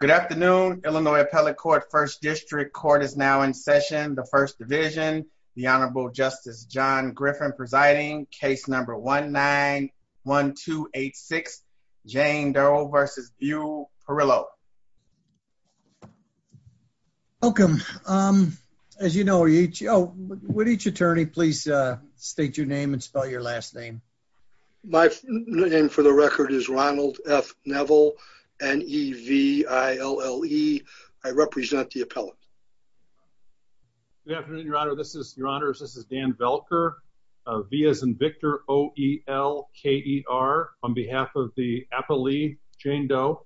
Good afternoon. Illinois Appellate Court First District Court is now in session. The First Division, the Honorable Justice John Griffin presiding. Case number 1-9-1-2-8-6, Jane Doe versus Beu Perillo. Welcome. As you know each, would each attorney please state your name and spell your last name? My name for the record is Ronald F. Neville, N-E-V-I-L-L-E. I represent the appellate. Good afternoon, Your Honor. This is, Your Honors, this is Dan Velker, V as in Victor, O-E-L-K-E-R. On behalf of the appellee, Jane Doe.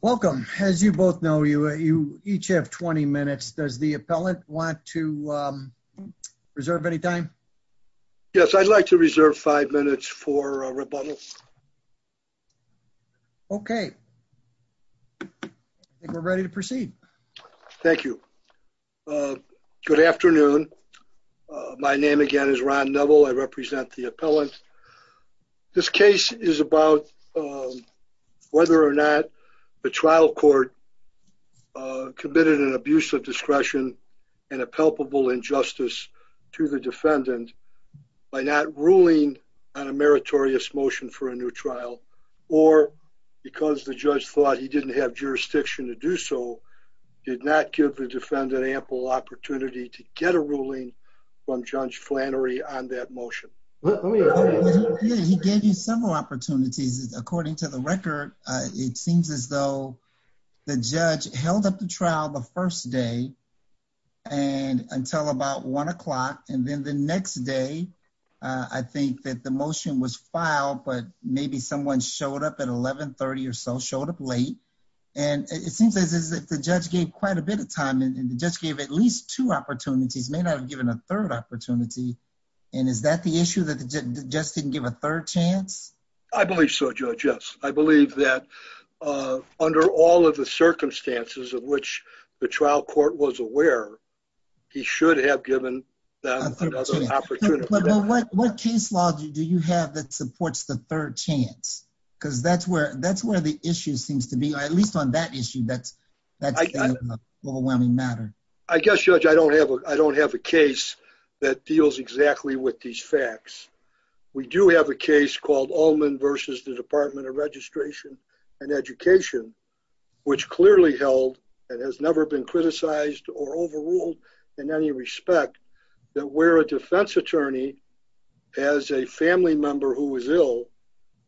Welcome. As you both know, you each have 20 minutes. Does the appellant want to reserve any time? Yes, I'd like to reserve five minutes for a rebuttal. Okay. I think we're ready to proceed. Thank you. Good afternoon. My name again is Ron Neville. I represent the appellant. This case is about whether or not the trial court uh, committed an abuse of discretion and a palpable injustice to the defendant by not ruling on a meritorious motion for a new trial or because the judge thought he didn't have jurisdiction to do so, did not give the defendant ample opportunity to get a ruling from Judge Flannery on that motion. He gave you several opportunities. According to the record, it seems as though the judge held up the trial the first day and until about one o'clock. And then the next day, I think that the motion was filed, but maybe someone showed up at 1130 or so, showed up late. And it seems as if the judge gave quite a bit of time and just gave at least two opportunities, may not have given a third opportunity. And is that the issue that the third chance? I believe so, Judge. Yes. I believe that, uh, under all of the circumstances of which the trial court was aware, he should have given them another opportunity. What case law do you have that supports the third chance? Because that's where, that's where the issue seems to be, at least on that issue. That's that overwhelming matter. I guess, Judge, I don't have a, I don't We do have a case called Allman versus the Department of Registration and Education, which clearly held and has never been criticized or overruled in any respect that where a defense attorney as a family member who was ill,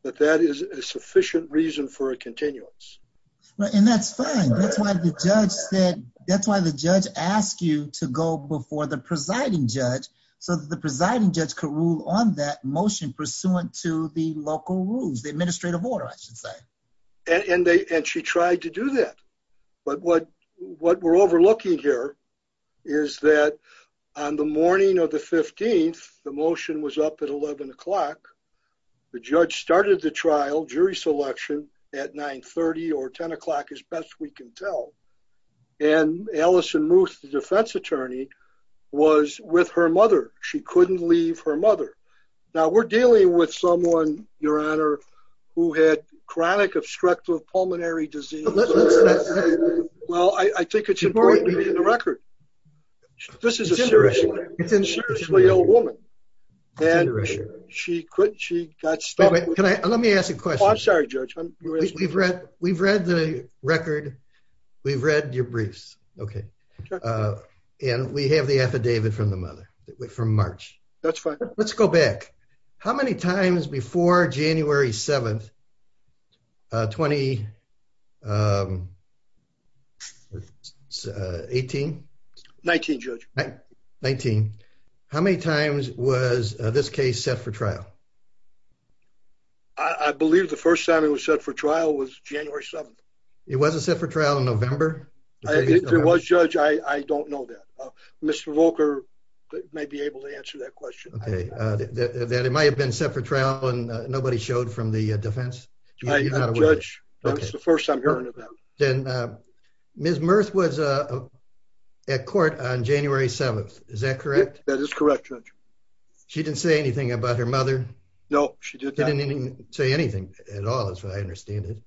that that is a sufficient reason for a continuance. Right. And that's fine. That's why the judge said, that's why the judge asked you to go before the presiding judge could rule on that motion pursuant to the local rules, the administrative order, I should say. And they, and she tried to do that. But what, what we're overlooking here is that on the morning of the 15th, the motion was up at 11 o'clock. The judge started the trial jury selection at 930 or her mother. Now we're dealing with someone, Your Honor, who had chronic obstructive pulmonary disease. Well, I think it's important in the record. This is a serious issue. It's a serious real woman. And she quit. She got stuck. Can I, let me ask you a question. I'm sorry, Judge. We've read the record. We've read your briefs. Okay. And we have the affidavit from the mother from March. That's fine. Let's go back. How many times before January 7th, 2018? 19, Judge. 19. How many times was this case set for trial? I believe the first time it was set for trial was January 7th. It wasn't set for trial in November? If it was, Judge, I don't know that. Mr. Volker may be able to answer that question. Okay. That it might've been set for trial and nobody showed from the defense? Judge, that was the first I'm hearing of that. Then Ms. Murth was at court on January 7th. Is that correct? That is correct, Judge. She didn't say anything about her mother? No, she did not. She didn't even say anything at all, as I understand it.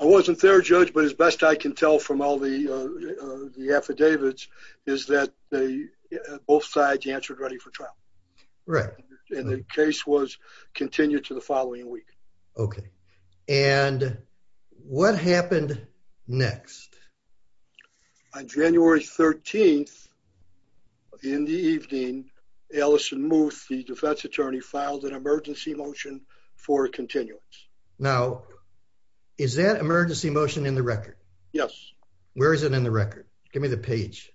I wasn't there, Judge, but as best I can tell from all the affidavits is that both sides answered ready for trial. Right. And the case was continued to the following week. Okay. And what happened next? On January 13th, in the evening, Alison Murth, the defense attorney, filed an emergency motion for continuance. Now, is that emergency motion in the record? Yes. Where is it in the record? Give me the page.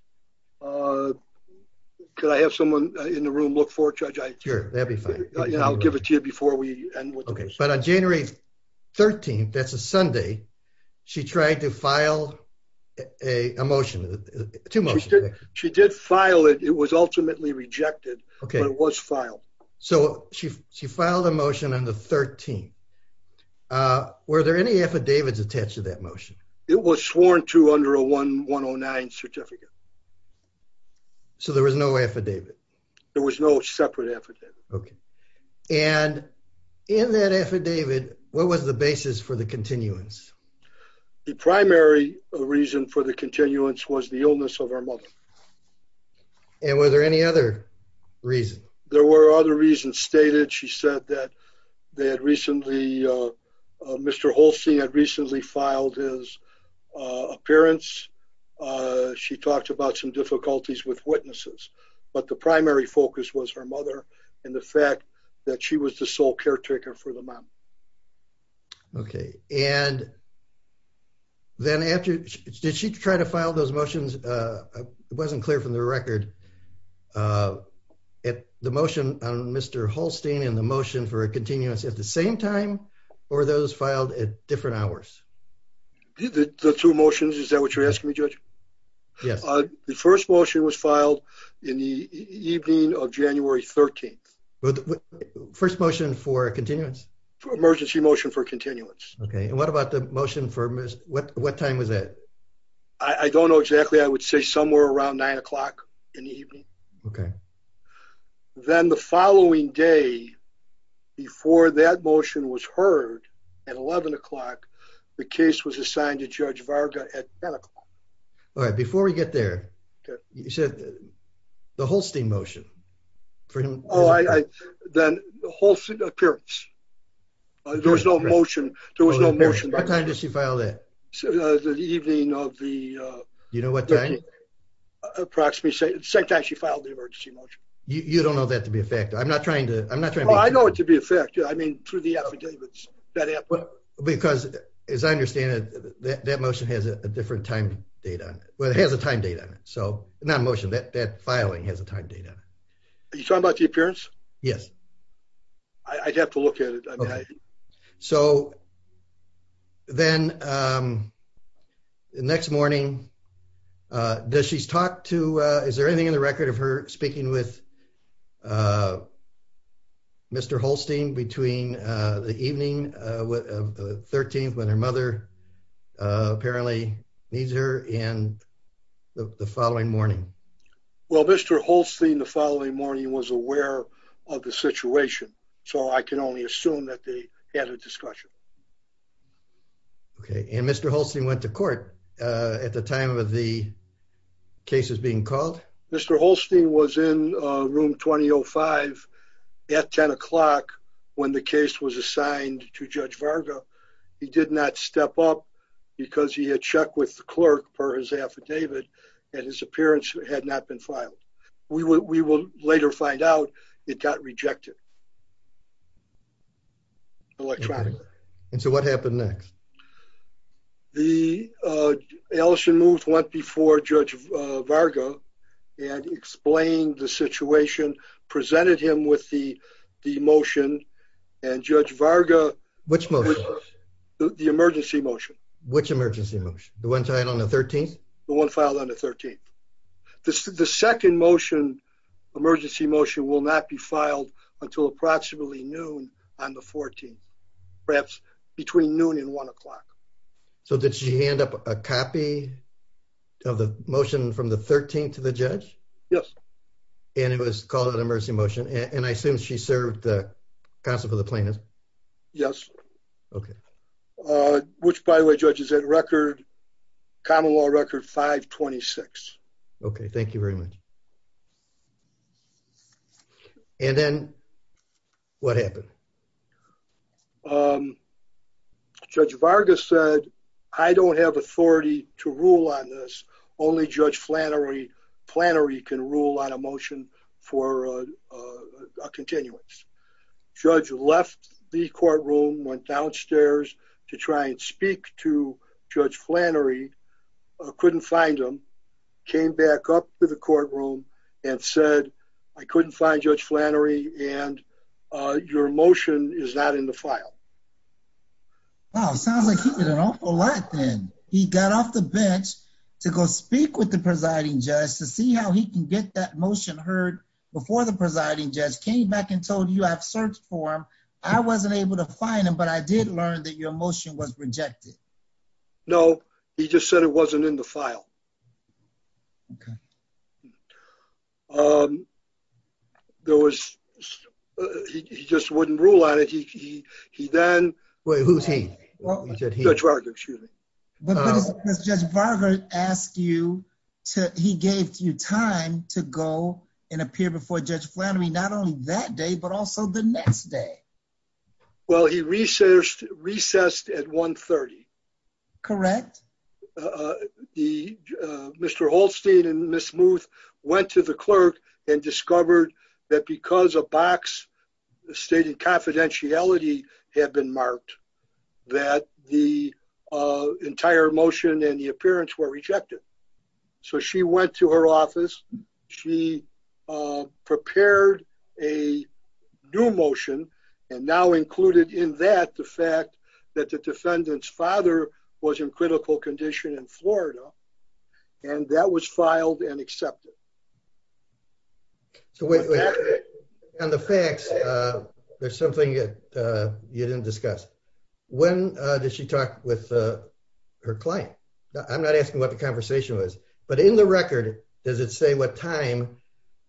Could I have someone in the room look for it, Judge? Sure, that'd be fine. I'll give it to you before we end with this. Okay. But on January 13th, that's a Sunday, she tried to file a motion, two motions. She did file it. It was ultimately rejected, but it was filed. So she filed a motion on the 13th. Were there any affidavits attached to that motion? It was sworn to under a 1109 certificate. So there was no affidavit? There was no separate affidavit. Okay. And in that affidavit, what was the basis for the continuance? The primary reason for the continuance was the illness of our mother. Okay. And were there any other reasons? There were other reasons stated. She said that they had recently, Mr. Holstein had recently filed his appearance. She talked about some difficulties with witnesses, but the primary focus was her mother and the fact that she was the sole caretaker for the mom. Okay. And then after, did she try to file those motions wasn't clear from the record at the motion on Mr. Holstein and the motion for a continuance at the same time, or those filed at different hours? The two motions. Is that what you're asking me, judge? Yes. The first motion was filed in the evening of January 13th. First motion for continuance? Emergency motion for continuance. Okay. And what about the motion for, what time was that? I don't know exactly. I would say somewhere around nine o'clock in the evening. Okay. Then the following day, before that motion was heard at 11 o'clock, the case was assigned to judge Varga at 10 o'clock. All right. Before we get there, you said the Holstein motion for him. Oh, then the Holstein appearance. There was no motion. What time did she file that? The evening of the... You know what time? Approximately the same time she filed the emergency motion. You don't know that to be a fact. I'm not trying to... Oh, I know it to be a fact. I mean, through the affidavits. Because as I understand it, that motion has a different time date on it. Well, it has a time date on it. So not a motion, that filing has a time date on it. Are you talking about the appearance? Yes. I'd have to look at it. So then the next morning, is there anything in the record of her speaking with Mr. Holstein between the evening of the 13th, when her mother apparently needs her, and the following morning? Well, Mr. Holstein the following morning was aware of the situation. So I can only assume that they had a discussion. Okay. And Mr. Holstein went to court at the time of the cases being called? Mr. Holstein was in room 2005 at 10 o'clock when the case was assigned to Judge Varga. He did not step up because he had checked with the had not been filed. We will later find out it got rejected electronically. And so what happened next? The Ellison moved one before Judge Varga and explained the situation, presented him with the motion, and Judge Varga... Which motion? The emergency motion. Which emergency motion? The one filed on the 13th? The second motion, emergency motion, will not be filed until approximately noon on the 14th, perhaps between noon and one o'clock. So did she hand up a copy of the motion from the 13th to the judge? Yes. And it was called an emergency motion? And I assume she served the counsel for the plaintiff? Yes. Okay. Which, by the way, Judge, is that record, common law record 526. Okay. Thank you very much. And then what happened? Judge Varga said, I don't have authority to rule on this. Only Judge Flannery can rule on a motion for a continuance. Judge left the courtroom, went downstairs to try and speak to Judge Flannery, couldn't find him, came back up to the courtroom and said, I couldn't find Judge Flannery and your motion is not in the file. Wow. Sounds like he did an awful lot then. He got off the bench to go speak with the before the presiding judge, came back and told you I've searched for him. I wasn't able to find him, but I did learn that your motion was rejected. No, he just said it wasn't in the file. Okay. There was, he just wouldn't rule on it. He then... Wait, who's he? Judge Varga, excuse me. But Judge Varga asked you to, he gave you time to go and appear before Judge Flannery, not only that day, but also the next day. Well, he recessed at 1.30. Correct. Mr. Holstein and Ms. Muth went to the clerk and discovered that because a box stating confidentiality had been marked that the entire motion and the appearance were rejected. So she went to her office, she prepared a new motion and now included in that the fact that the defendant's father was in critical condition in Florida and that was filed and accepted. So wait, on the facts, there's something that you didn't discuss. When did she talk with her client? I'm not asking what the conversation was, but in the record, does it say what time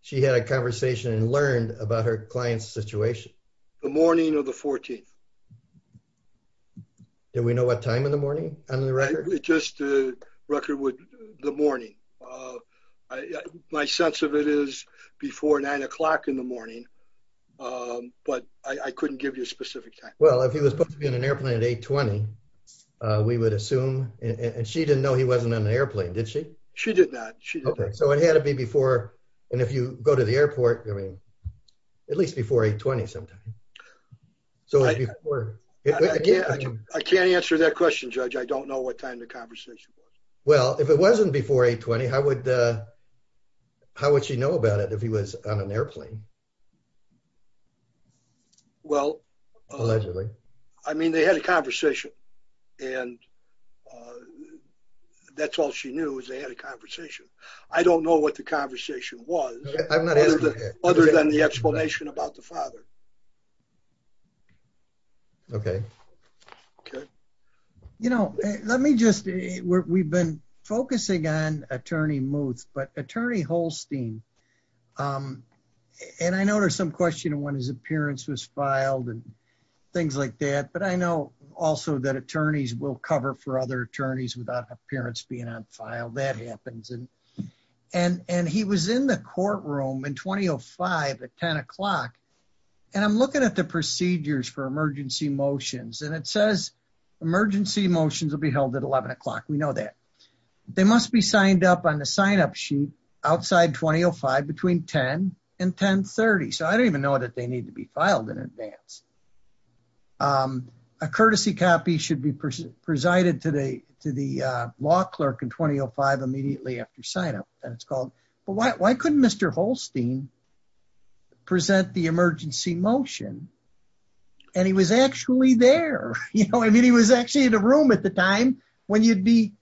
she had a conversation and learned about her client's situation? The morning of the 14th. Do we know what time in the morning on the record? Just the record with the morning. My sense of it is before nine o'clock in the morning, but I couldn't give you a specific time. Well, if he was supposed to be on an airplane at 8.20, we would assume, and she didn't know he wasn't on an airplane, did she? She did not. Okay. So it had to be before, and if you go to the airport, I mean, at least before 8.20 sometime. So I can't answer that question, judge. I don't know what time the conversation was. Well, if it wasn't before 8.20, how would she know about it if he was on an airplane? Well, I mean, they had a conversation and that's all she knew is they had a conversation. I don't know what the conversation was other than the explanation about the father. Okay. Good. You know, let me just, we've been focusing on attorney Muth, but attorney Holstein, and I know there's some question of when his appearance was filed and things like that, but I know also that attorneys will cover for other attorneys without appearance being on file, that happens. And he was in the courtroom in 2005 at 10 o'clock. And I'm looking at the procedures for emergency motions, and it says emergency motions will be held at 11 o'clock. We know that. They must be signed up on the signup sheet outside 2005 between 10 and 10.30. So I don't even know that they need to be filed in advance. A courtesy copy should be presided to the law clerk in 2005 immediately after signup, and it's called, but why couldn't Mr. Holstein present the emergency motion? And he was actually there. I mean, he was actually in a room at the time when you'd be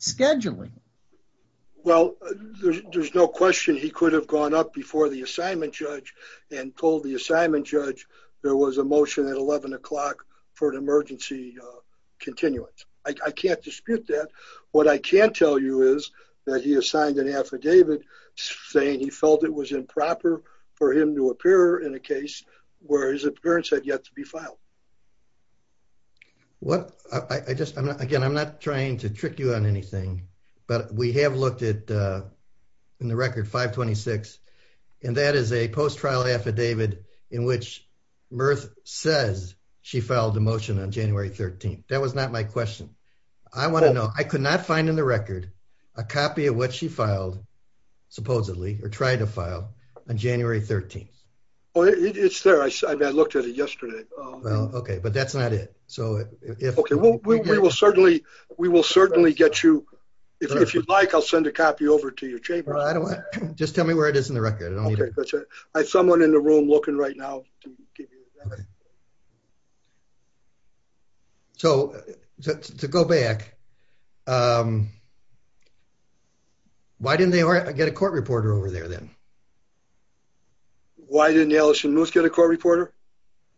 scheduling. Well, there's no question he could have gone up before the assignment judge and told the assignment judge there was a motion at 11 o'clock for an emergency continuance. I can't dispute that. What I can tell you is that he assigned an affidavit saying he felt it was improper for him to appear in a case where his appearance had yet to be filed. Again, I'm not trying to trick you on anything, but we have looked at in the record 526, and that is a post-trial affidavit in which Murth says she filed a motion on January 13th. That was not my question. I want to know, I could not find in the record a copy of what she filed, supposedly, or tried to file on January 13th. It's there. I mean, I looked at it yesterday. Okay, but that's not it. We will certainly get you, if you'd like, I'll send a copy over to your chamber. I don't want, just tell me where it is in the record. I have someone in the room looking right now. Okay. So, to go back, why didn't they get a court reporter over there then? Why didn't Allison Moose get a court reporter?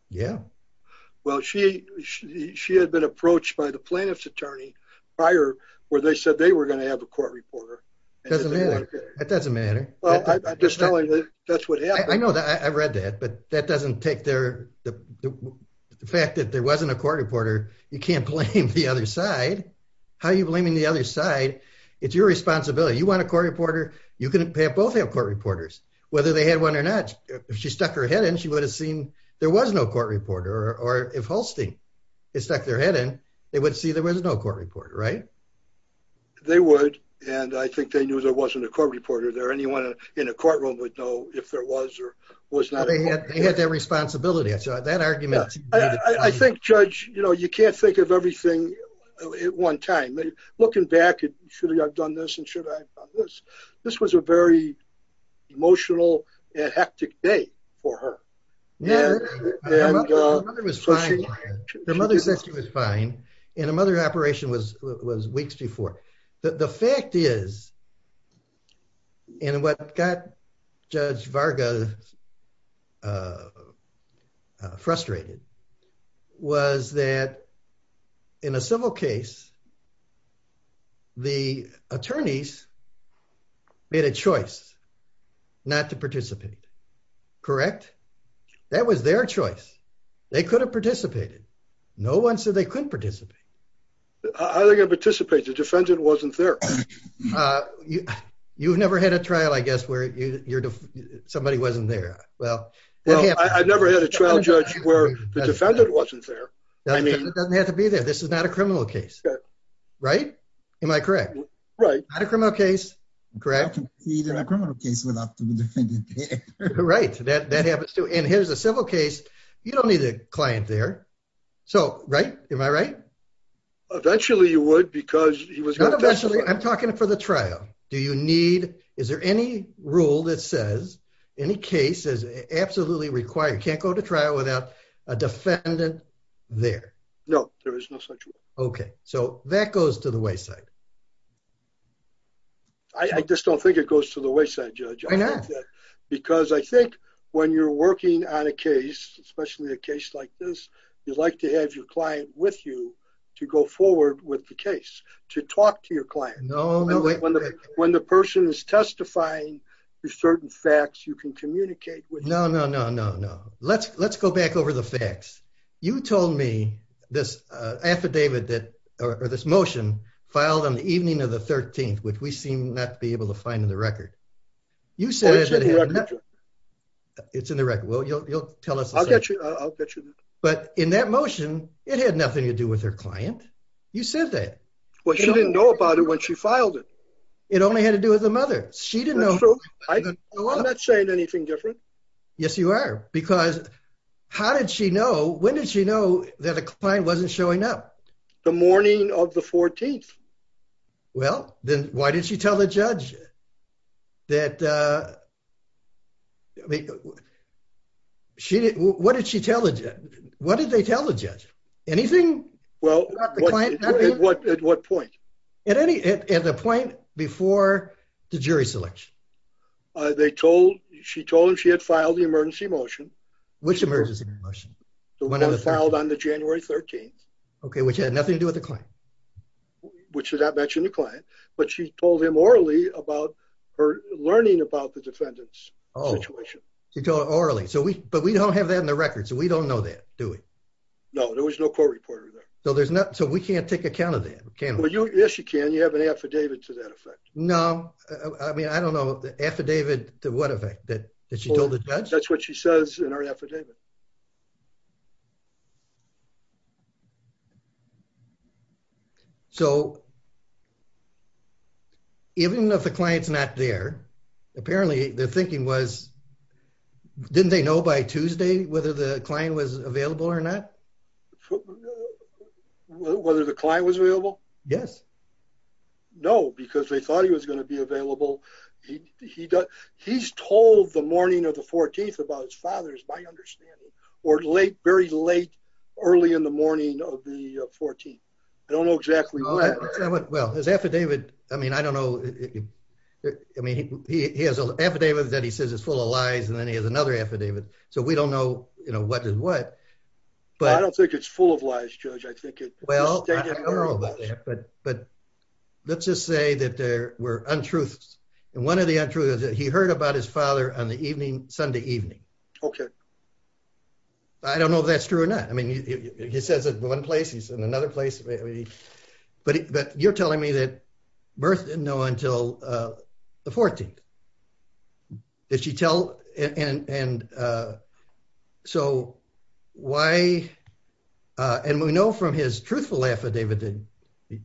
Yeah. Well, she had been approached by the plaintiff's attorney prior, where they said they were going to have a court reporter. Doesn't matter. That doesn't matter. Well, I'm just telling you, that's what happened. I know that. I've read that. But that doesn't take the fact that there wasn't a court reporter. You can't blame the other side. How are you blaming the other side? It's your responsibility. You want a court reporter? You can have both have court reporters, whether they had one or not. If she stuck her head in, she would have seen there was no court reporter. Or if Holstein had stuck their head in, they would see there was no court reporter, right? They would. And I think they knew there wasn't a court reporter there. In a courtroom would know if there was or was not. They had that responsibility. I saw that argument. I think, Judge, you can't think of everything at one time. Looking back, should I have done this? And should I have done this? This was a very emotional and hectic day for her. Her mother said she was fine. And her mother's operation was weeks before. The fact is, and what got Judge Varga frustrated, was that in a civil case, the attorneys made a choice not to participate, correct? That was their choice. They could have participated. No one said they couldn't participate. How are they going to participate? The defendant wasn't there. You've never had a trial, I guess, where somebody wasn't there. Well, I've never had a trial, Judge, where the defendant wasn't there. I mean, it doesn't have to be there. This is not a criminal case, right? Am I correct? Right. Not a criminal case, correct? Not a criminal case without the defendant there. Right. That happens too. And here's a civil case. You don't need a client there. So, right? Am I right? Eventually, you would, because he was- Not eventually. I'm talking for the trial. Do you need, is there any rule that says any case is absolutely required, can't go to trial without a defendant there? No, there is no such rule. Okay. So, that goes to the wayside. I just don't think it goes to the wayside, Judge. I know. Because I think when you're working on a case, especially a case like this, you'd like to have your client with you to go forward with the case, to talk to your client. No. When the person is testifying to certain facts, you can communicate with- No, no, no, no, no. Let's go back over the facts. You told me this affidavit that, or this motion, filed on the evening of the 13th, which we seem not to be able to find in the record. You said- It's in the record. Well, you'll tell us- I'll get you that. But in that motion, it had nothing to do with her client. You said that. Well, she didn't know about it when she filed it. It only had to do with the mother. She didn't know- That's true. I'm not saying anything different. Yes, you are. Because how did she know, when did she know that a client wasn't showing up? The morning of the 14th. Well, then why didn't she tell the judge that- I mean, what did she tell the judge? What did they tell the judge? Anything about the client happening? At what point? At the point before the jury selection. She told him she had filed the emergency motion. Which emergency motion? The one that was filed on the January 13th. Okay, which had nothing to do with the client. Which did not mention the client. But she told him orally about her learning about the defendant's situation. She told him orally. But we don't have that in the record, so we don't know that, do we? No, there was no court reporter there. So, we can't take account of that, can we? Yes, you can. You have an affidavit to that effect. No, I mean, I don't know. The affidavit to what effect? That she told the judge? That's what she says in her affidavit. So, even if the client's not there, apparently their thinking was, didn't they know by Tuesday whether the client was available or not? Whether the client was available? Yes. No, because they thought he was going to be available. He's told the morning of the 14th about his father, is my understanding. Or late, very late, early in the morning of the 14th. I don't know exactly when. Well, his affidavit, I mean, I don't know. I mean, he has an affidavit that he says is full of lies, and then he has another affidavit. So, we don't know, you know, what is what. But I don't think it's full of lies, Judge. I think it... Well, but let's just say that there were untruths. And one of the untruths is that he heard about his father on the evening, Sunday evening. Okay. I don't know if that's true or not. I mean, he says at one place, he's in another place. But you're telling me that Mirth didn't know until the 14th. Did she tell... So, why... And we know from his truthful affidavit that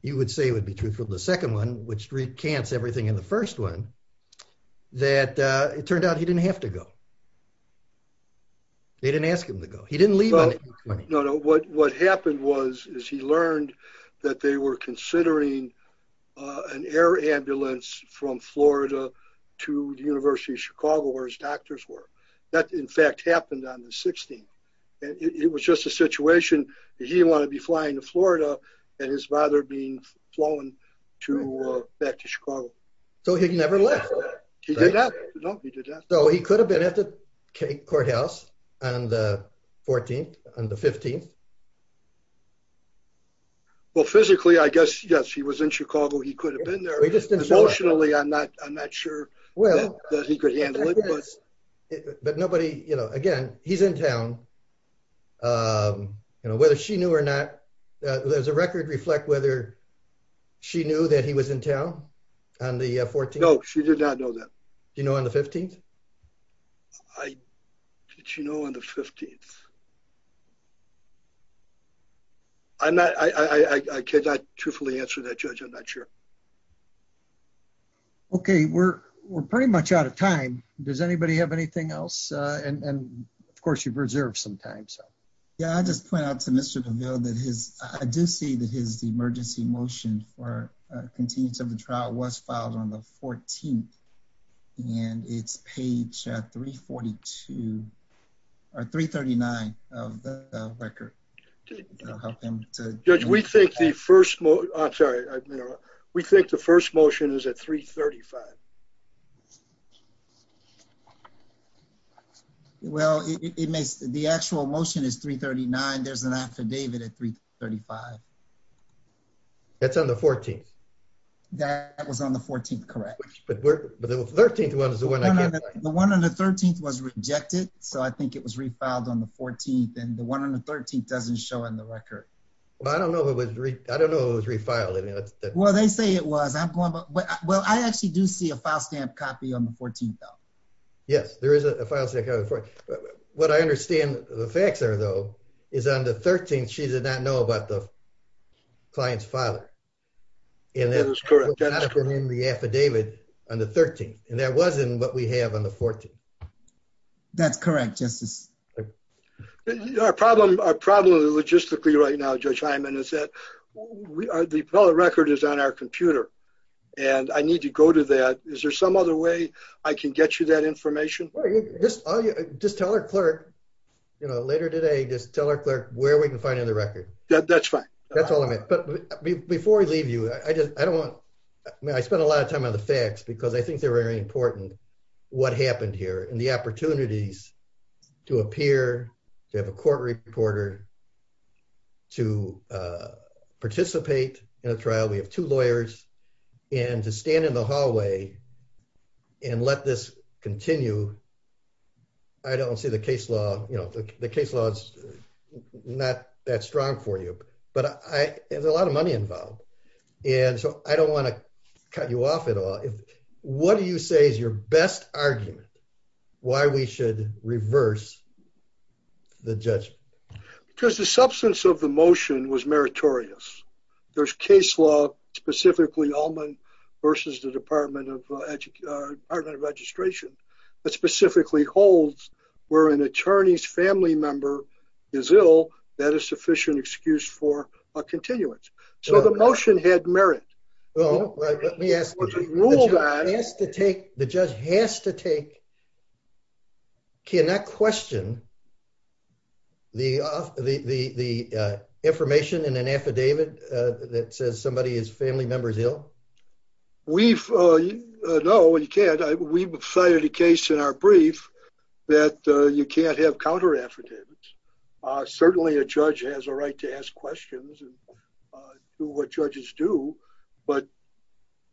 you would say would be truthful, the second one, which recants everything in the first one, that it turned out he didn't have to go. They didn't ask him to go. He didn't leave on the evening. What happened was, is he learned that they were considering an air ambulance from Florida to the University of Chicago, where his doctors were. That, in fact, happened on the 16th. It was just a situation that he didn't want to be flying to Florida and his father being flown back to Chicago. So, he never left. He did that. No, he did that. So, he could have been at the courthouse on the 14th, on the 15th. Well, physically, I guess, yes, he was in Chicago. He could have been there. Emotionally, I'm not sure that he could handle it. But nobody, you know, again, he's in town. You know, whether she knew or not, there's a record reflect whether she knew that he was in town on the 14th. No, she did not know that. Do you know on the 15th? I, did she know on the 15th? I'm not, I cannot truthfully answer that, Judge. I'm not sure. Okay, we're pretty much out of time. Does anybody have anything else? And, of course, you've reserved some time, so. Yeah, I'll just point out to Mr. DeVille that his, I do see that his emergency motion for continuance of the trial was filed on the 14th, and it's page 342, or 339 of the record. Judge, we think the first, I'm sorry, we think the first motion is at 335. Well, it makes, the actual motion is 339. There's an affidavit at 335. That's on the 14th. That was on the 14th, correct? But we're, but the 13th one is the one I can't find. The one on the 13th was rejected, so I think it was refiled on the 14th, and the one on the 13th doesn't show in the record. Well, I don't know if it was, I don't know if it was refiled. I mean, that's. Well, they say it was. I'm going, but, well, I actually do see a file stamp copy on the 14th, though. Yes, there is a file stamp copy on the 14th. What I understand the facts are, though, is on the 13th, she did not know about the 14th. Client's father. And that was not in the affidavit on the 13th. And that wasn't what we have on the 14th. That's correct, Justice. Our problem, our problem logistically right now, Judge Hyman, is that the appellate record is on our computer, and I need to go to that. Is there some other way I can get you that information? Just tell our clerk, you know, later today, just tell our clerk where we can find the record. That's fine. That's all I meant. But before we leave you, I just, I don't want, I mean, I spent a lot of time on the facts, because I think they're very important, what happened here and the opportunities to appear, to have a court reporter, to participate in a trial. We have two lawyers, and to stand in the hallway and let this continue. I don't see the case law, you know, the case law is not that strong for you, but there's a lot of money involved. And so I don't want to cut you off at all. What do you say is your best argument, why we should reverse the judgment? Because the substance of the motion was meritorious. There's case law, specifically Allman versus the Department of Registration. That specifically holds where an attorney's family member is ill, that is sufficient excuse for a continuance. So the motion had merit. Let me ask you, the judge has to take, can I question the information in an affidavit that says somebody's family member is ill? We've, no, you can't. We've cited a case in our brief that you can't have counter affidavits. Certainly a judge has a right to ask questions and do what judges do. But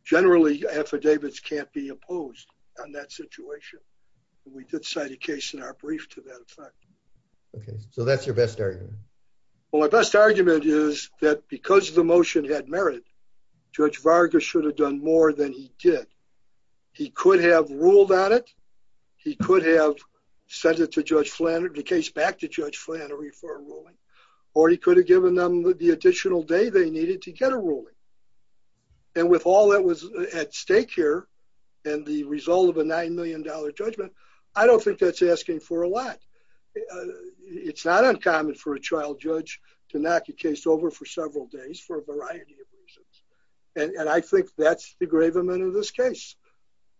generally, affidavits can't be opposed on that situation. We did cite a case in our brief to that effect. Okay, so that's your best argument? Well, my best argument is that because the motion had merit, Judge Varga should have done more than he did. He could have ruled on it. He could have sent it to Judge Flannery, the case back to Judge Flannery for a ruling. Or he could have given them the additional day they needed to get a ruling. And with all that was at stake here, and the result of a $9 million judgment, I don't think that's asking for a lot. It's not uncommon for a child judge to knock a case over for several days for a variety of reasons. And I think that's the engravement of this case.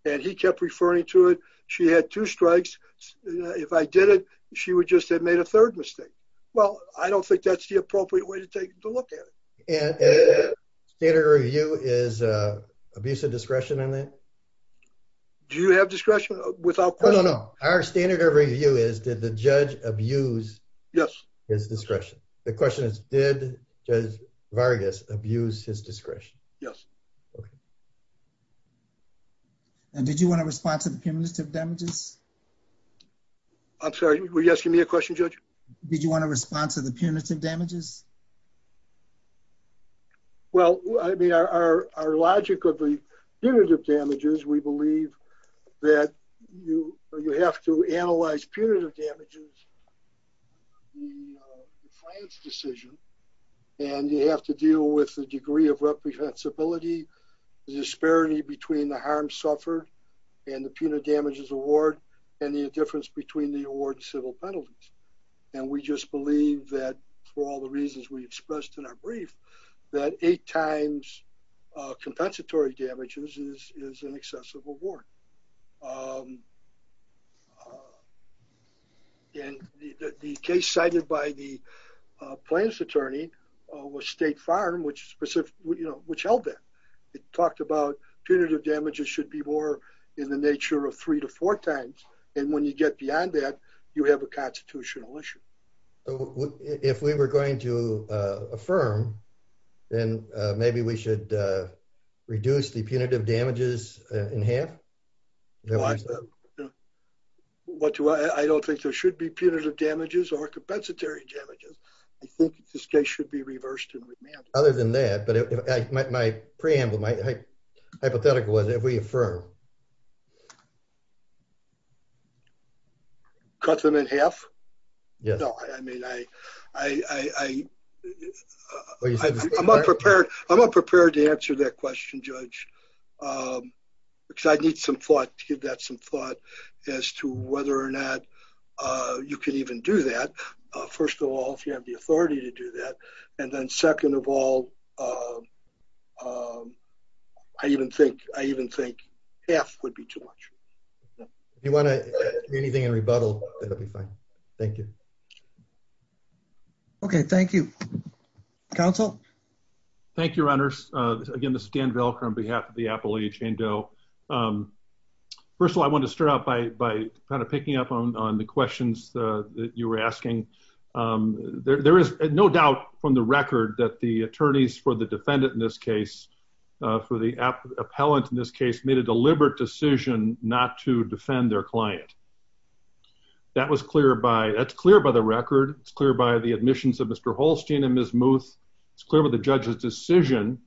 And he kept referring to it. She had two strikes. If I did it, she would just have made a third mistake. Well, I don't think that's the appropriate way to take a look at it. And standard of review is abuse of discretion on that? Do you have discretion without question? No, no, no. Our standard of review is did the judge abuse his discretion? The question is, did Judge Vargas abuse his discretion? Yes. And did you want to respond to the punitive damages? I'm sorry, were you asking me a question, Judge? Did you want to respond to the punitive damages? Well, I mean, our logic of the punitive damages, we believe that you have to analyze punitive damages, the defiance decision, and you have to deal with the degree of reprehensibility, the disparity between the harm suffered and the punitive damages award, and the difference between the award and civil penalties. And we just believe that for all the reasons we expressed in our brief, that eight times compensatory damages is an excessive award. And the case cited by the plaintiff's attorney was State Farm, which held that. It talked about punitive damages should be more in the nature of three to four times. And when you get beyond that, you have a constitutional issue. If we were going to affirm, then maybe we should reduce the punitive damages in half? Why? I don't think there should be punitive damages or compensatory damages. I think this case should be reversed and remanded. Other than that, but my preamble, my hypothetical was, if we affirm. Cut them in half? Yes. No, I mean, I'm unprepared to answer that question, Judge. Um, because I'd need some thought to give that some thought as to whether or not, uh, you can even do that. First of all, if you have the authority to do that. And then second of all, um, um, I even think, I even think half would be too much. If you want to do anything in rebuttal, that'd be fine. Thank you. Okay. Thank you. Counsel. Thank you, runners. Again, this is Dan Velcro on behalf of the appellee, Jane Doe. First of all, I wanted to start out by, by kind of picking up on the questions that you were asking. There is no doubt from the record that the attorneys for the defendant in this case, for the appellant in this case, made a deliberate decision not to defend their client. That was clear by, that's clear by the record. It's clear by the admissions of Mr. Holstein and Ms. Muth. It's clear by the judge's decision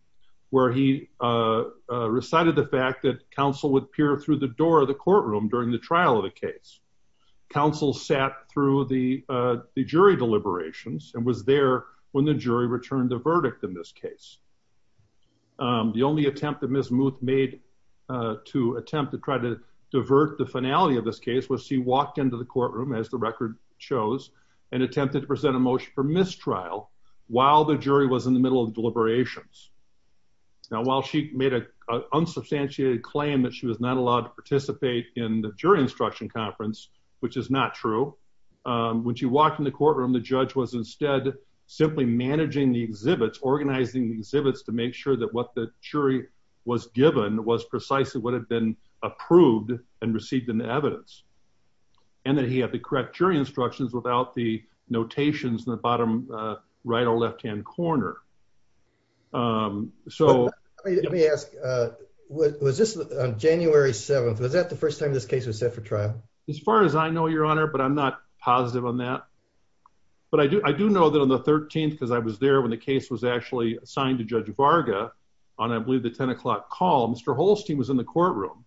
where he, uh, uh, recited the fact that counsel would peer through the door of the courtroom during the trial of the case. Counsel sat through the, uh, the jury deliberations and was there when the jury returned the verdict in this case. Um, the only attempt that Ms. Muth made, uh, to attempt to try to divert the finality of this case was she walked into the courtroom as the record shows and attempted to present a motion for mistrial while the jury was in the middle of deliberations. Now, while she made a unsubstantiated claim that she was not allowed to participate in the jury instruction conference, which is not true, um, when she walked in the courtroom, the judge was instead simply managing the exhibits, organizing the exhibits to make sure that what the jury was given was precisely what had been approved and received in the bottom, uh, right or left hand corner. Um, so let me ask, uh, was this on January 7th? Was that the first time this case was set for trial? As far as I know, your honor, but I'm not positive on that, but I do, I do know that on the 13th, cause I was there when the case was actually assigned to judge Varga on, I believe the 10 o'clock call Mr. Holstein was in the courtroom.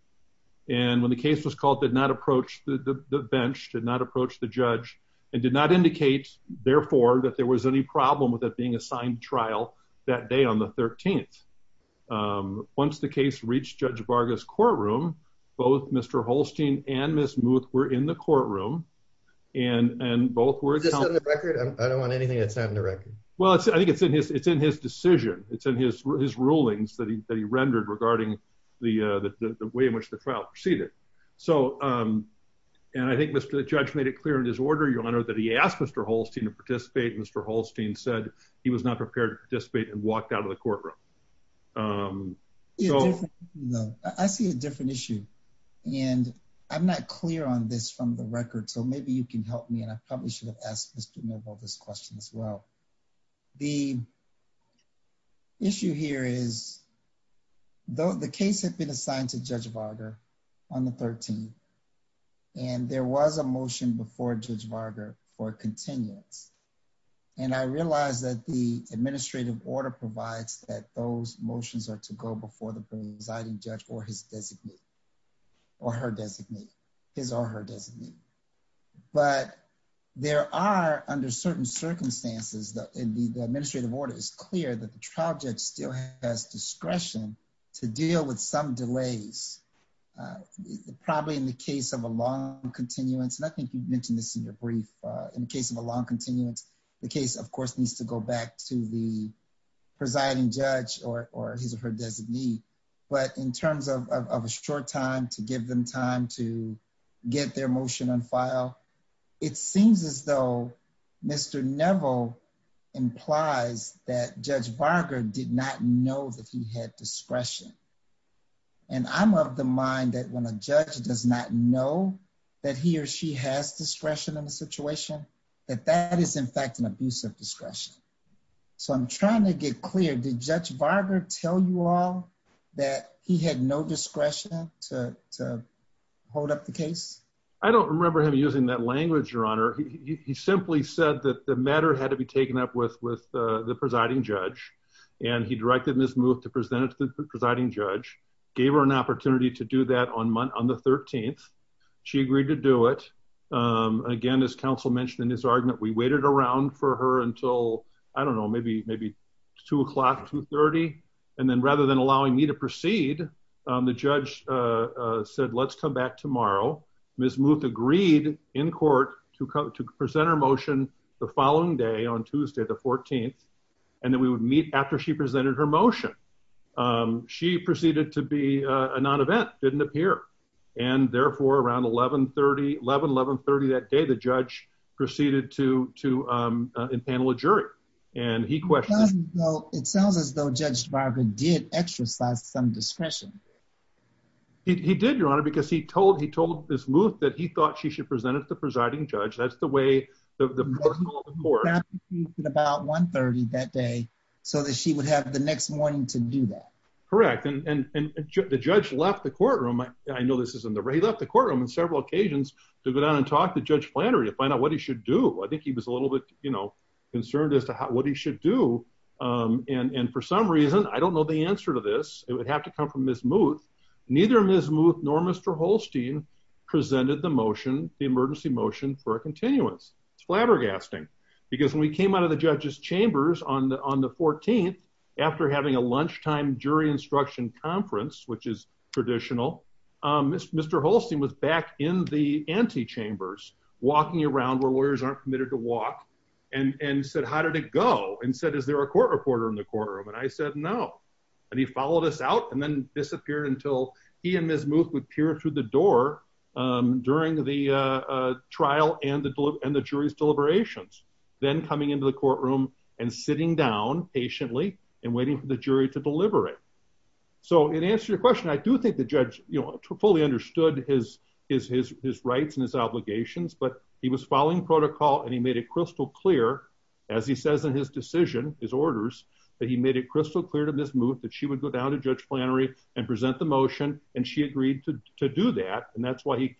And when the case was called, did not approach the bench, did not approach the judge and did not indicate therefore that there was any problem with it being assigned trial that day on the 13th. Um, once the case reached judge Varga's courtroom, both Mr. Holstein and Ms. Muth were in the courtroom and, and both were just on the record. I don't want anything that's not in the record. Well, I think it's in his, it's in his decision. It's in his, his rulings that he, that he rendered regarding the, uh, the, the way in which the trial proceeded. So, um, and I think Mr. Judge made it clear in his order, your honor, that he asked Mr. Holstein to participate. And Mr. Holstein said he was not prepared to participate and walked out of the courtroom. Um, I see a different issue and I'm not clear on this from the record. So maybe you can help me. And I probably should have asked Mr. Noble this question as well. The issue here is though the case had been assigned to judge Varga on the 13th and there was a motion before judge Varga for continuance. And I realized that the administrative order provides that those motions are to go before the presiding judge or his designee or her designee, his or her designee. But there are under certain circumstances that the administrative order is clear that the trial judge still has discretion to deal with some delays, uh, probably in the case of a long continuance. And I think you've mentioned this in your brief, uh, in the case of a long continuance, the case of course needs to go back to the presiding judge or, or his or her designee. But in terms of a short time to give them time to get their motion on file, it seems as though Mr. Neville implies that judge Varga did not know that he had discretion. And I'm of the mind that when a judge does not know that he or she has discretion in a situation that that is in fact an abuse of discretion. So I'm trying to get clear. Did judge Varga tell you all that he had no discretion to, to hold up the case? I don't remember him using that language, your honor. He simply said that the matter had to be taken up with, with, uh, the presiding judge and he directed this move to present it to the presiding judge, gave her an opportunity to do that on month on the 13th. She agreed to do it. Again, as counsel mentioned in his argument, we waited around for her until, I don't know, maybe, maybe two o'clock, two 30. And then rather than allowing me to proceed, the judge said, let's come back tomorrow. Ms. Muth agreed in court to come to present her motion the following day on Tuesday, the 14th, and then we would meet after she presented her motion. She proceeded to be a non-event didn't appear. And therefore around 1130, 11, 1130 that day, the judge proceeded to, to, um, uh, impanel a jury. And he questioned, It sounds as though judge Varga did exercise some discretion. He did, your honor, because he told, he told Ms. Muth that he thought she should present it to the presiding judge. That's the way the, the court About one 30 that day, so that she would have the next morning to do that. Correct. And the judge left the courtroom. I know this isn't the right, he left the courtroom on several occasions to go down and talk to judge Flannery to find out what he should do. I think he was a little bit, you know, concerned as to what he should do. And, and for some reason, I don't know the answer to this. It would have to come from Ms. Muth. Neither Ms. Muth nor Mr. Holstein presented the motion, the emergency motion for a continuance. It's flabbergasting because when we came out of the judge's chambers on the, on the 14th, after having a lunchtime jury instruction conference, which is traditional Mr. Holstein was back in the antechambers walking around where lawyers aren't committed to walk. And said, how did it go and said, is there a court reporter in the corner of it. I said, no. And he followed us out and then disappeared until he and Ms. Muth would peer through the door during the trial and the, and the jury's deliberations. Then coming into the courtroom and sitting down patiently and waiting for the jury to deliver it. So in answer to your question, I do think the judge, you know, fully understood his, his, his, his rights and his obligations, but he was following protocol and he made it crystal clear. As he says in his decision, his orders that he made it crystal clear to Ms. Muth that she would go down to judge Flannery and present the motion. And she agreed to do that. And that's why he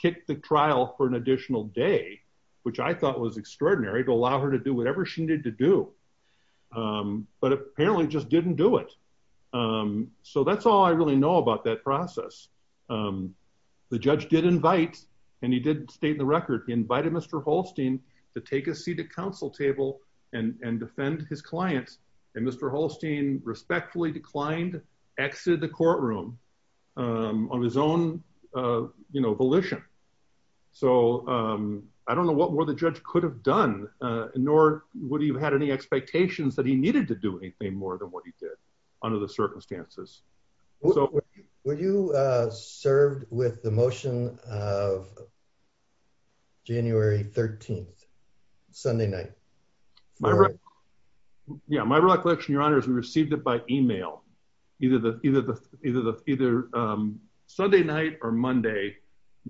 kicked the trial for an additional day, which I thought was extraordinary to allow her to do whatever she needed to do. But apparently just didn't do it. So that's all I really know about that process. The judge did invite, and he did state in the record, he invited Mr. Holstein to take a seat at council table and defend his clients. And Mr. Holstein respectfully declined, exited the courtroom on his own, you know, volition. So I don't know what more the judge could have done, nor would he have had any expectations that he needed to do anything more than what he did under the circumstances. Were you served with the motion of January 13th, Sunday night? Yeah. My recollection, your honor, is we received it by email. Either Sunday night or Monday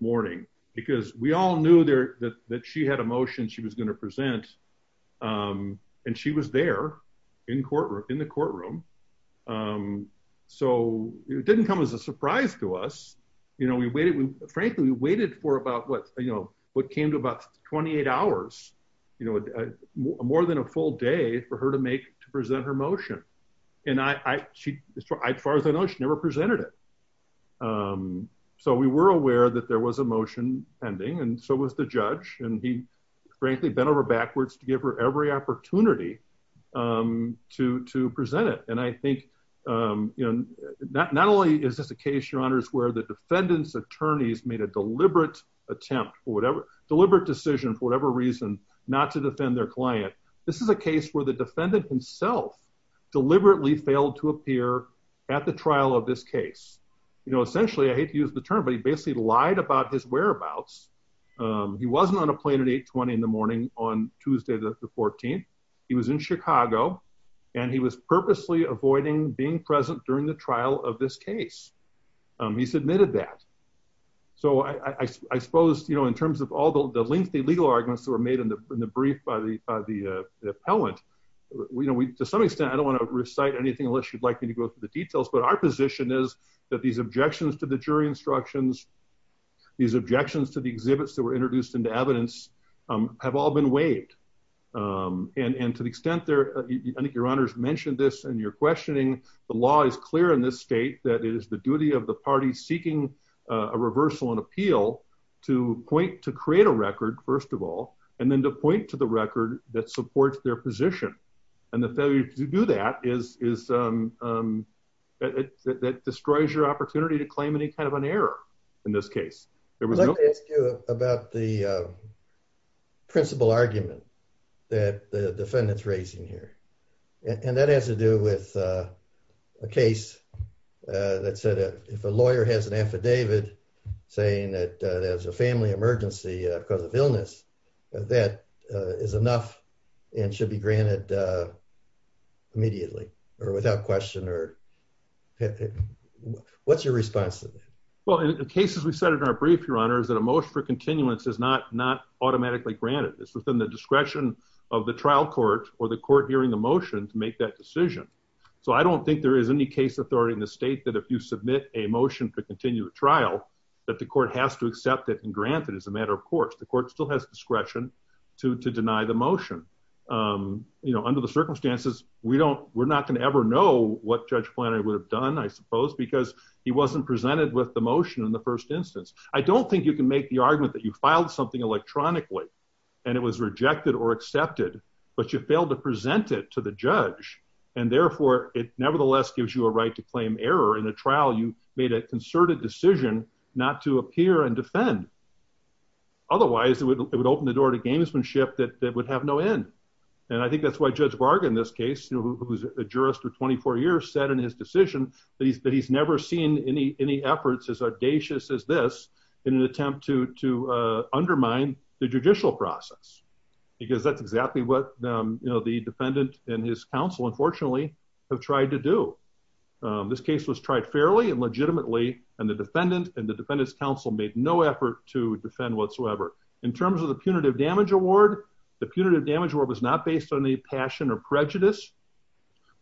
morning. Because we all knew that she had a motion she was going to present. And she was there in the courtroom. So it didn't come as a surprise to us. Frankly, we waited for about what came to about 28 hours. More than a full day for her to make, to present her motion. And as far as I know, she never presented it. So we were aware that there was a motion pending, and so was the judge. And he, frankly, bent over backwards to give her every opportunity to present it. And I think, you know, not only is this a case, your honors, where the defendant's attorneys made a deliberate attempt for whatever, deliberate decision for whatever reason, not to defend their client. This is a case where the defendant himself deliberately failed to appear at the trial of this case. You know, essentially, I hate to use the term, but he basically lied about his whereabouts. He wasn't on a plane at 820 in the morning on Tuesday, the 14th. He was in Chicago. And he was purposely avoiding being present during the trial of this case. He submitted that. So I suppose, you know, in terms of all the lengthy legal arguments that were made in the brief by the appellant, you know, to some extent, I don't want to recite anything unless you'd like me to go through the details. But our position is that these objections to the jury instructions, these objections to the exhibits that were introduced into evidence, have all been waived. And to the extent there, I think your honors mentioned this, and you're questioning, the law is clear in this state that it is the duty of the parties seeking a reversal and appeal to point to create a record, first of all, and then to point to the record that supports their position. And the failure to do that is, that destroys your opportunity to claim any kind of an error in this case. There was no- Let me ask you about the principal argument that the defendant's raising here. And that has to do with a case that said if a lawyer has an affidavit saying that there's a family emergency because of illness, that is enough and should be granted immediately or without question. What's your response to that? Well, in the cases we cited in our brief, your honor, is that a motion for continuance is not automatically granted. It's within the discretion of the trial court or the court hearing the motion to make that decision. So I don't think there is any case authority in the state that if you submit a motion to continue the trial, that the court has to accept it and grant it as a matter of course. The court still has discretion to deny the motion. Under the circumstances, we're not going to ever know what Judge Plano would have done, I suppose, because he wasn't presented with the motion in the first instance. I don't think you can make the argument that you filed something electronically and it was rejected or accepted, but you failed to present it to the judge. And therefore, it nevertheless gives you a right to claim error in a trial. You made a concerted decision not to appear and defend. Otherwise, it would open the door to gamesmanship that would have no end. And I think that's why Judge Varga in this case, who's a jurist for 24 years, said in his decision that he's never seen any efforts as audacious as this in an attempt to undermine the judicial process, because that's exactly what the defendant and his counsel, unfortunately, have tried to do. This case was tried fairly and legitimately, and the defendant and the defendant's counsel made no effort to defend whatsoever. In terms of the punitive damage award, the punitive damage award was not based on any passion or prejudice.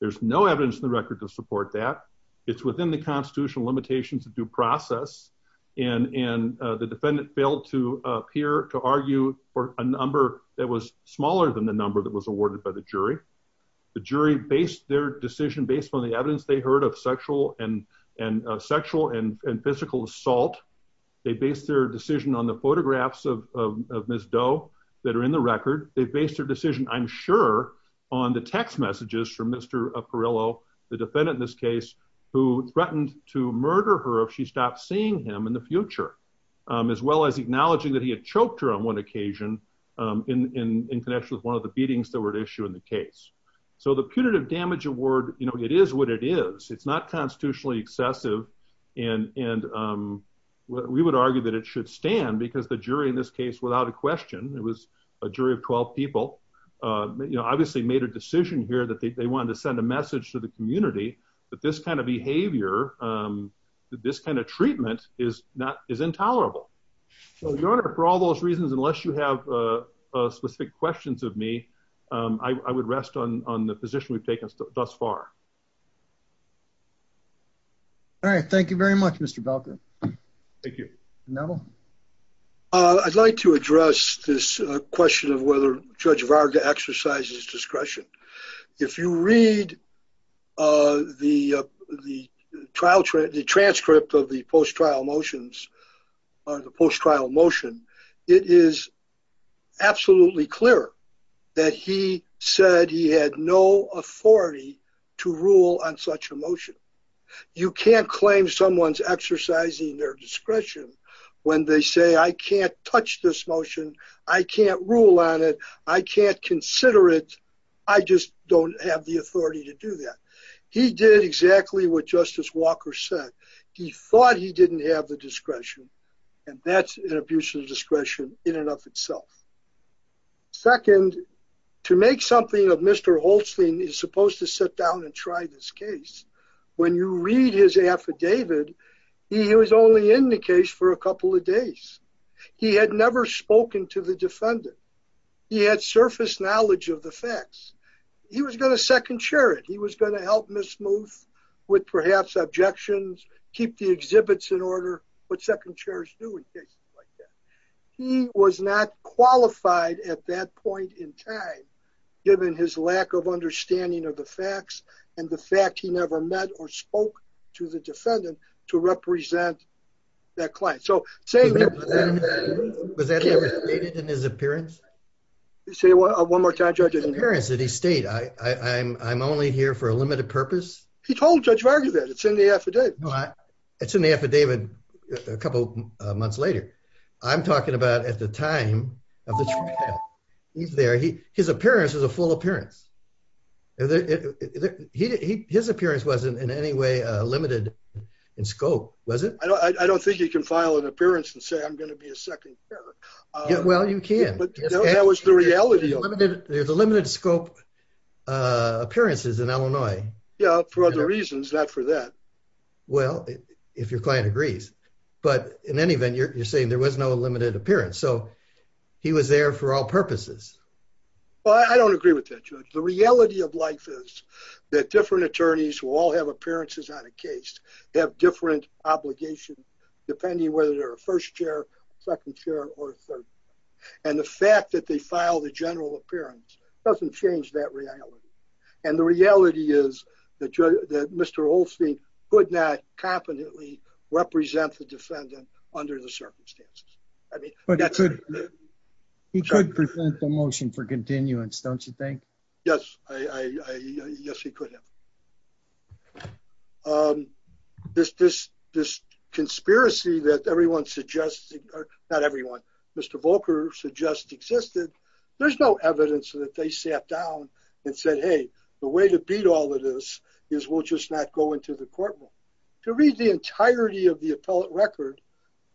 There's no evidence in the record to support that. It's within the constitutional limitations of due process. And the defendant failed to appear to argue for a number that was smaller than the number that was awarded by the jury. The jury based their decision based on the evidence they heard of sexual and physical assault. They based their decision on the photographs of Ms. Doe that are in the record. They based their decision, I'm sure, on the text messages from Mr. Aparello, the defendant in this case, who threatened to murder her if she stopped seeing him in the future, as well as acknowledging that he had choked her on one occasion in connection with one of the beatings that were at issue in the case. So the punitive damage award, it is what it is. It's not constitutionally excessive, and we would argue that it should stand, because the jury in this case, without a question, it was a jury of 12 people, obviously made a decision here that they wanted to send a message to the community that this kind of behavior, that this kind of treatment is intolerable. So, Your Honor, for all those reasons, unless you have specific questions of me, I would rest on the position we've taken thus far. All right. Thank you very much, Mr. Belkin. Thank you. Neville? I'd like to address this question of whether Judge Varga exercises discretion. If you read the transcript of the post-trial motion, it is absolutely clear that he said he had no authority to rule on such a motion. You can't claim someone's exercising their discretion when they say, I can't touch this motion, I can't rule on it, I can't consider it, I just don't have the authority to do that. He did exactly what Justice Walker said. He thought he didn't have the discretion, and that's an abuse of discretion in and of itself. Second, to make something of Mr. Holstein is supposed to sit down and try this case. When you read his affidavit, he was only in the case for a couple of days. He had never spoken to the defendant. He had surface knowledge of the facts. He was going to second-chair it. He was going to help Ms. Smooth with perhaps objections, keep the exhibits in order, what second-chairs do in cases like that. He was not qualified at that point in time, given his lack of understanding of the facts and the fact he never met or spoke to the defendant to represent that client. So, saying that… Was that never stated in his appearance? Say it one more time, Judge. In his appearance, did he state, I'm only here for a limited purpose? He told Judge Varga that. It's in the affidavit. It's in the affidavit a couple months later. I'm talking about at the time of the trial. He's there. His appearance is a full appearance. His appearance wasn't in any way limited in scope, was it? I don't think you can file an appearance and say, I'm going to be a second-chair. Well, you can. But that was the reality of it. There's a limited scope of appearances in Illinois. Yeah, for other reasons, not for that. Well, if your client agrees. But in any event, you're saying there was no limited appearance. So, he was there for all purposes. Well, I don't agree with that, Judge. The reality of life is that different attorneys who all have appearances on a case have different obligations, depending whether they're a first-chair, second-chair, or third-chair. And the fact that they filed a general appearance doesn't change that reality. And the reality is that Mr. Holstein could not competently represent the defendant under the circumstances. He could present the motion for continuance, don't you think? Yes, he could have. This conspiracy that everyone suggests, not everyone, Mr. Volker suggests existed. There's no evidence that they sat down and said, hey, the way to beat all of this is we'll just not go into the courtroom. To read the entirety of the appellate record,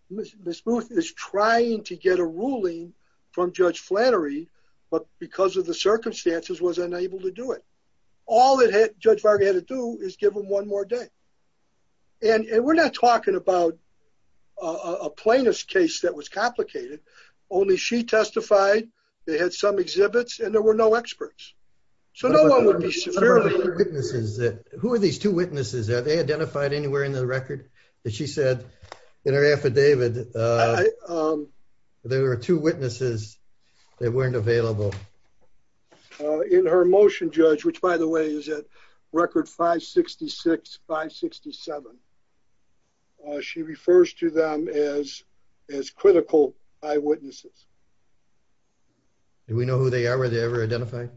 Ms. Booth is trying to get a ruling from Judge Flannery, but because of the circumstances, was unable to do it. All that Judge Varga had to do is give him one more day. And we're not talking about a plaintiff's case that was complicated. Only she testified, they had some exhibits, and there were no experts. So no one would be severely hurt. Who are these two witnesses? Have they identified anywhere in the record that she said in her affidavit there were two witnesses that weren't available? In her motion, Judge, which, by the way, is at record 566-567, she refers to them as critical eyewitnesses. Do we know who they are? Were they ever identified?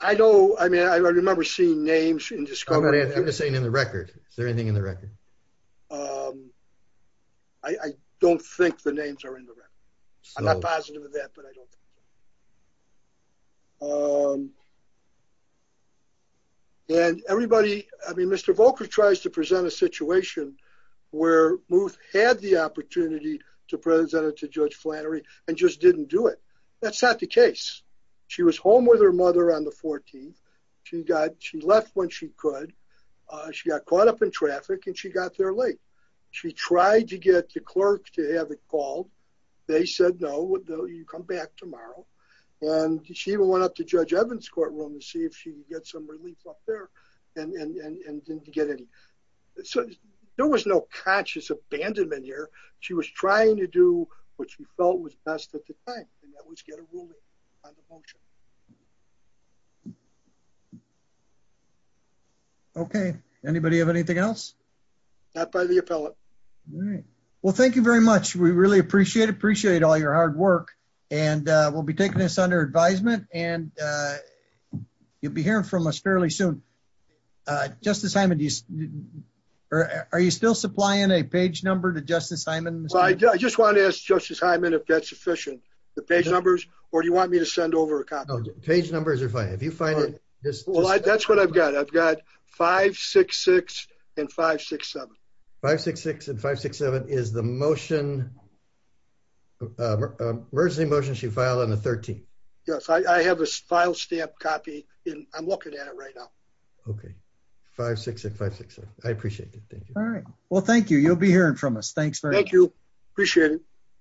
I know. I mean, I remember seeing names. I'm just saying in the record. Is there anything in the record? I don't think the names are in the record. I'm not positive of that, but I don't. And everybody, I mean, Mr. Volker tries to present a situation where Muth had the opportunity to present it to Judge Flannery and just didn't do it. That's not the case. She was home with her mother on the 14th. She got, she left when she could. She got caught up in traffic and she got there late. She tried to get the clerk to have it called. They said, no, you come back tomorrow. And she even went up to Judge Evans' courtroom to see if she could get some relief up there and didn't get any. So there was no conscious abandonment here. She was trying to do what she felt was best at the time, and that was get a ruling on the motion. Okay. Anybody have anything else? Not by the appellate. All right. Well, thank you very much. We really appreciate it. Appreciate all your hard work. And we'll be taking this under advisement. And you'll be hearing from us fairly soon. Justice Hyman, are you still supplying a page number to Justice Hyman? Well, I just wanted to ask Justice Hyman if that's sufficient, the page numbers, or do you want me to send over a copy? No, page numbers are fine. If you find it, just- Well, that's what I've got. I've got 566 and 567. 566 and 567 is the motion. Where's the motion she filed on the 13th? Yes, I have a file stamp copy, and I'm looking at it right now. Okay. 566 and 567. I appreciate it. Thank you. All right. Well, thank you. You'll be hearing from us. Thanks very much. Thank you. Appreciate it.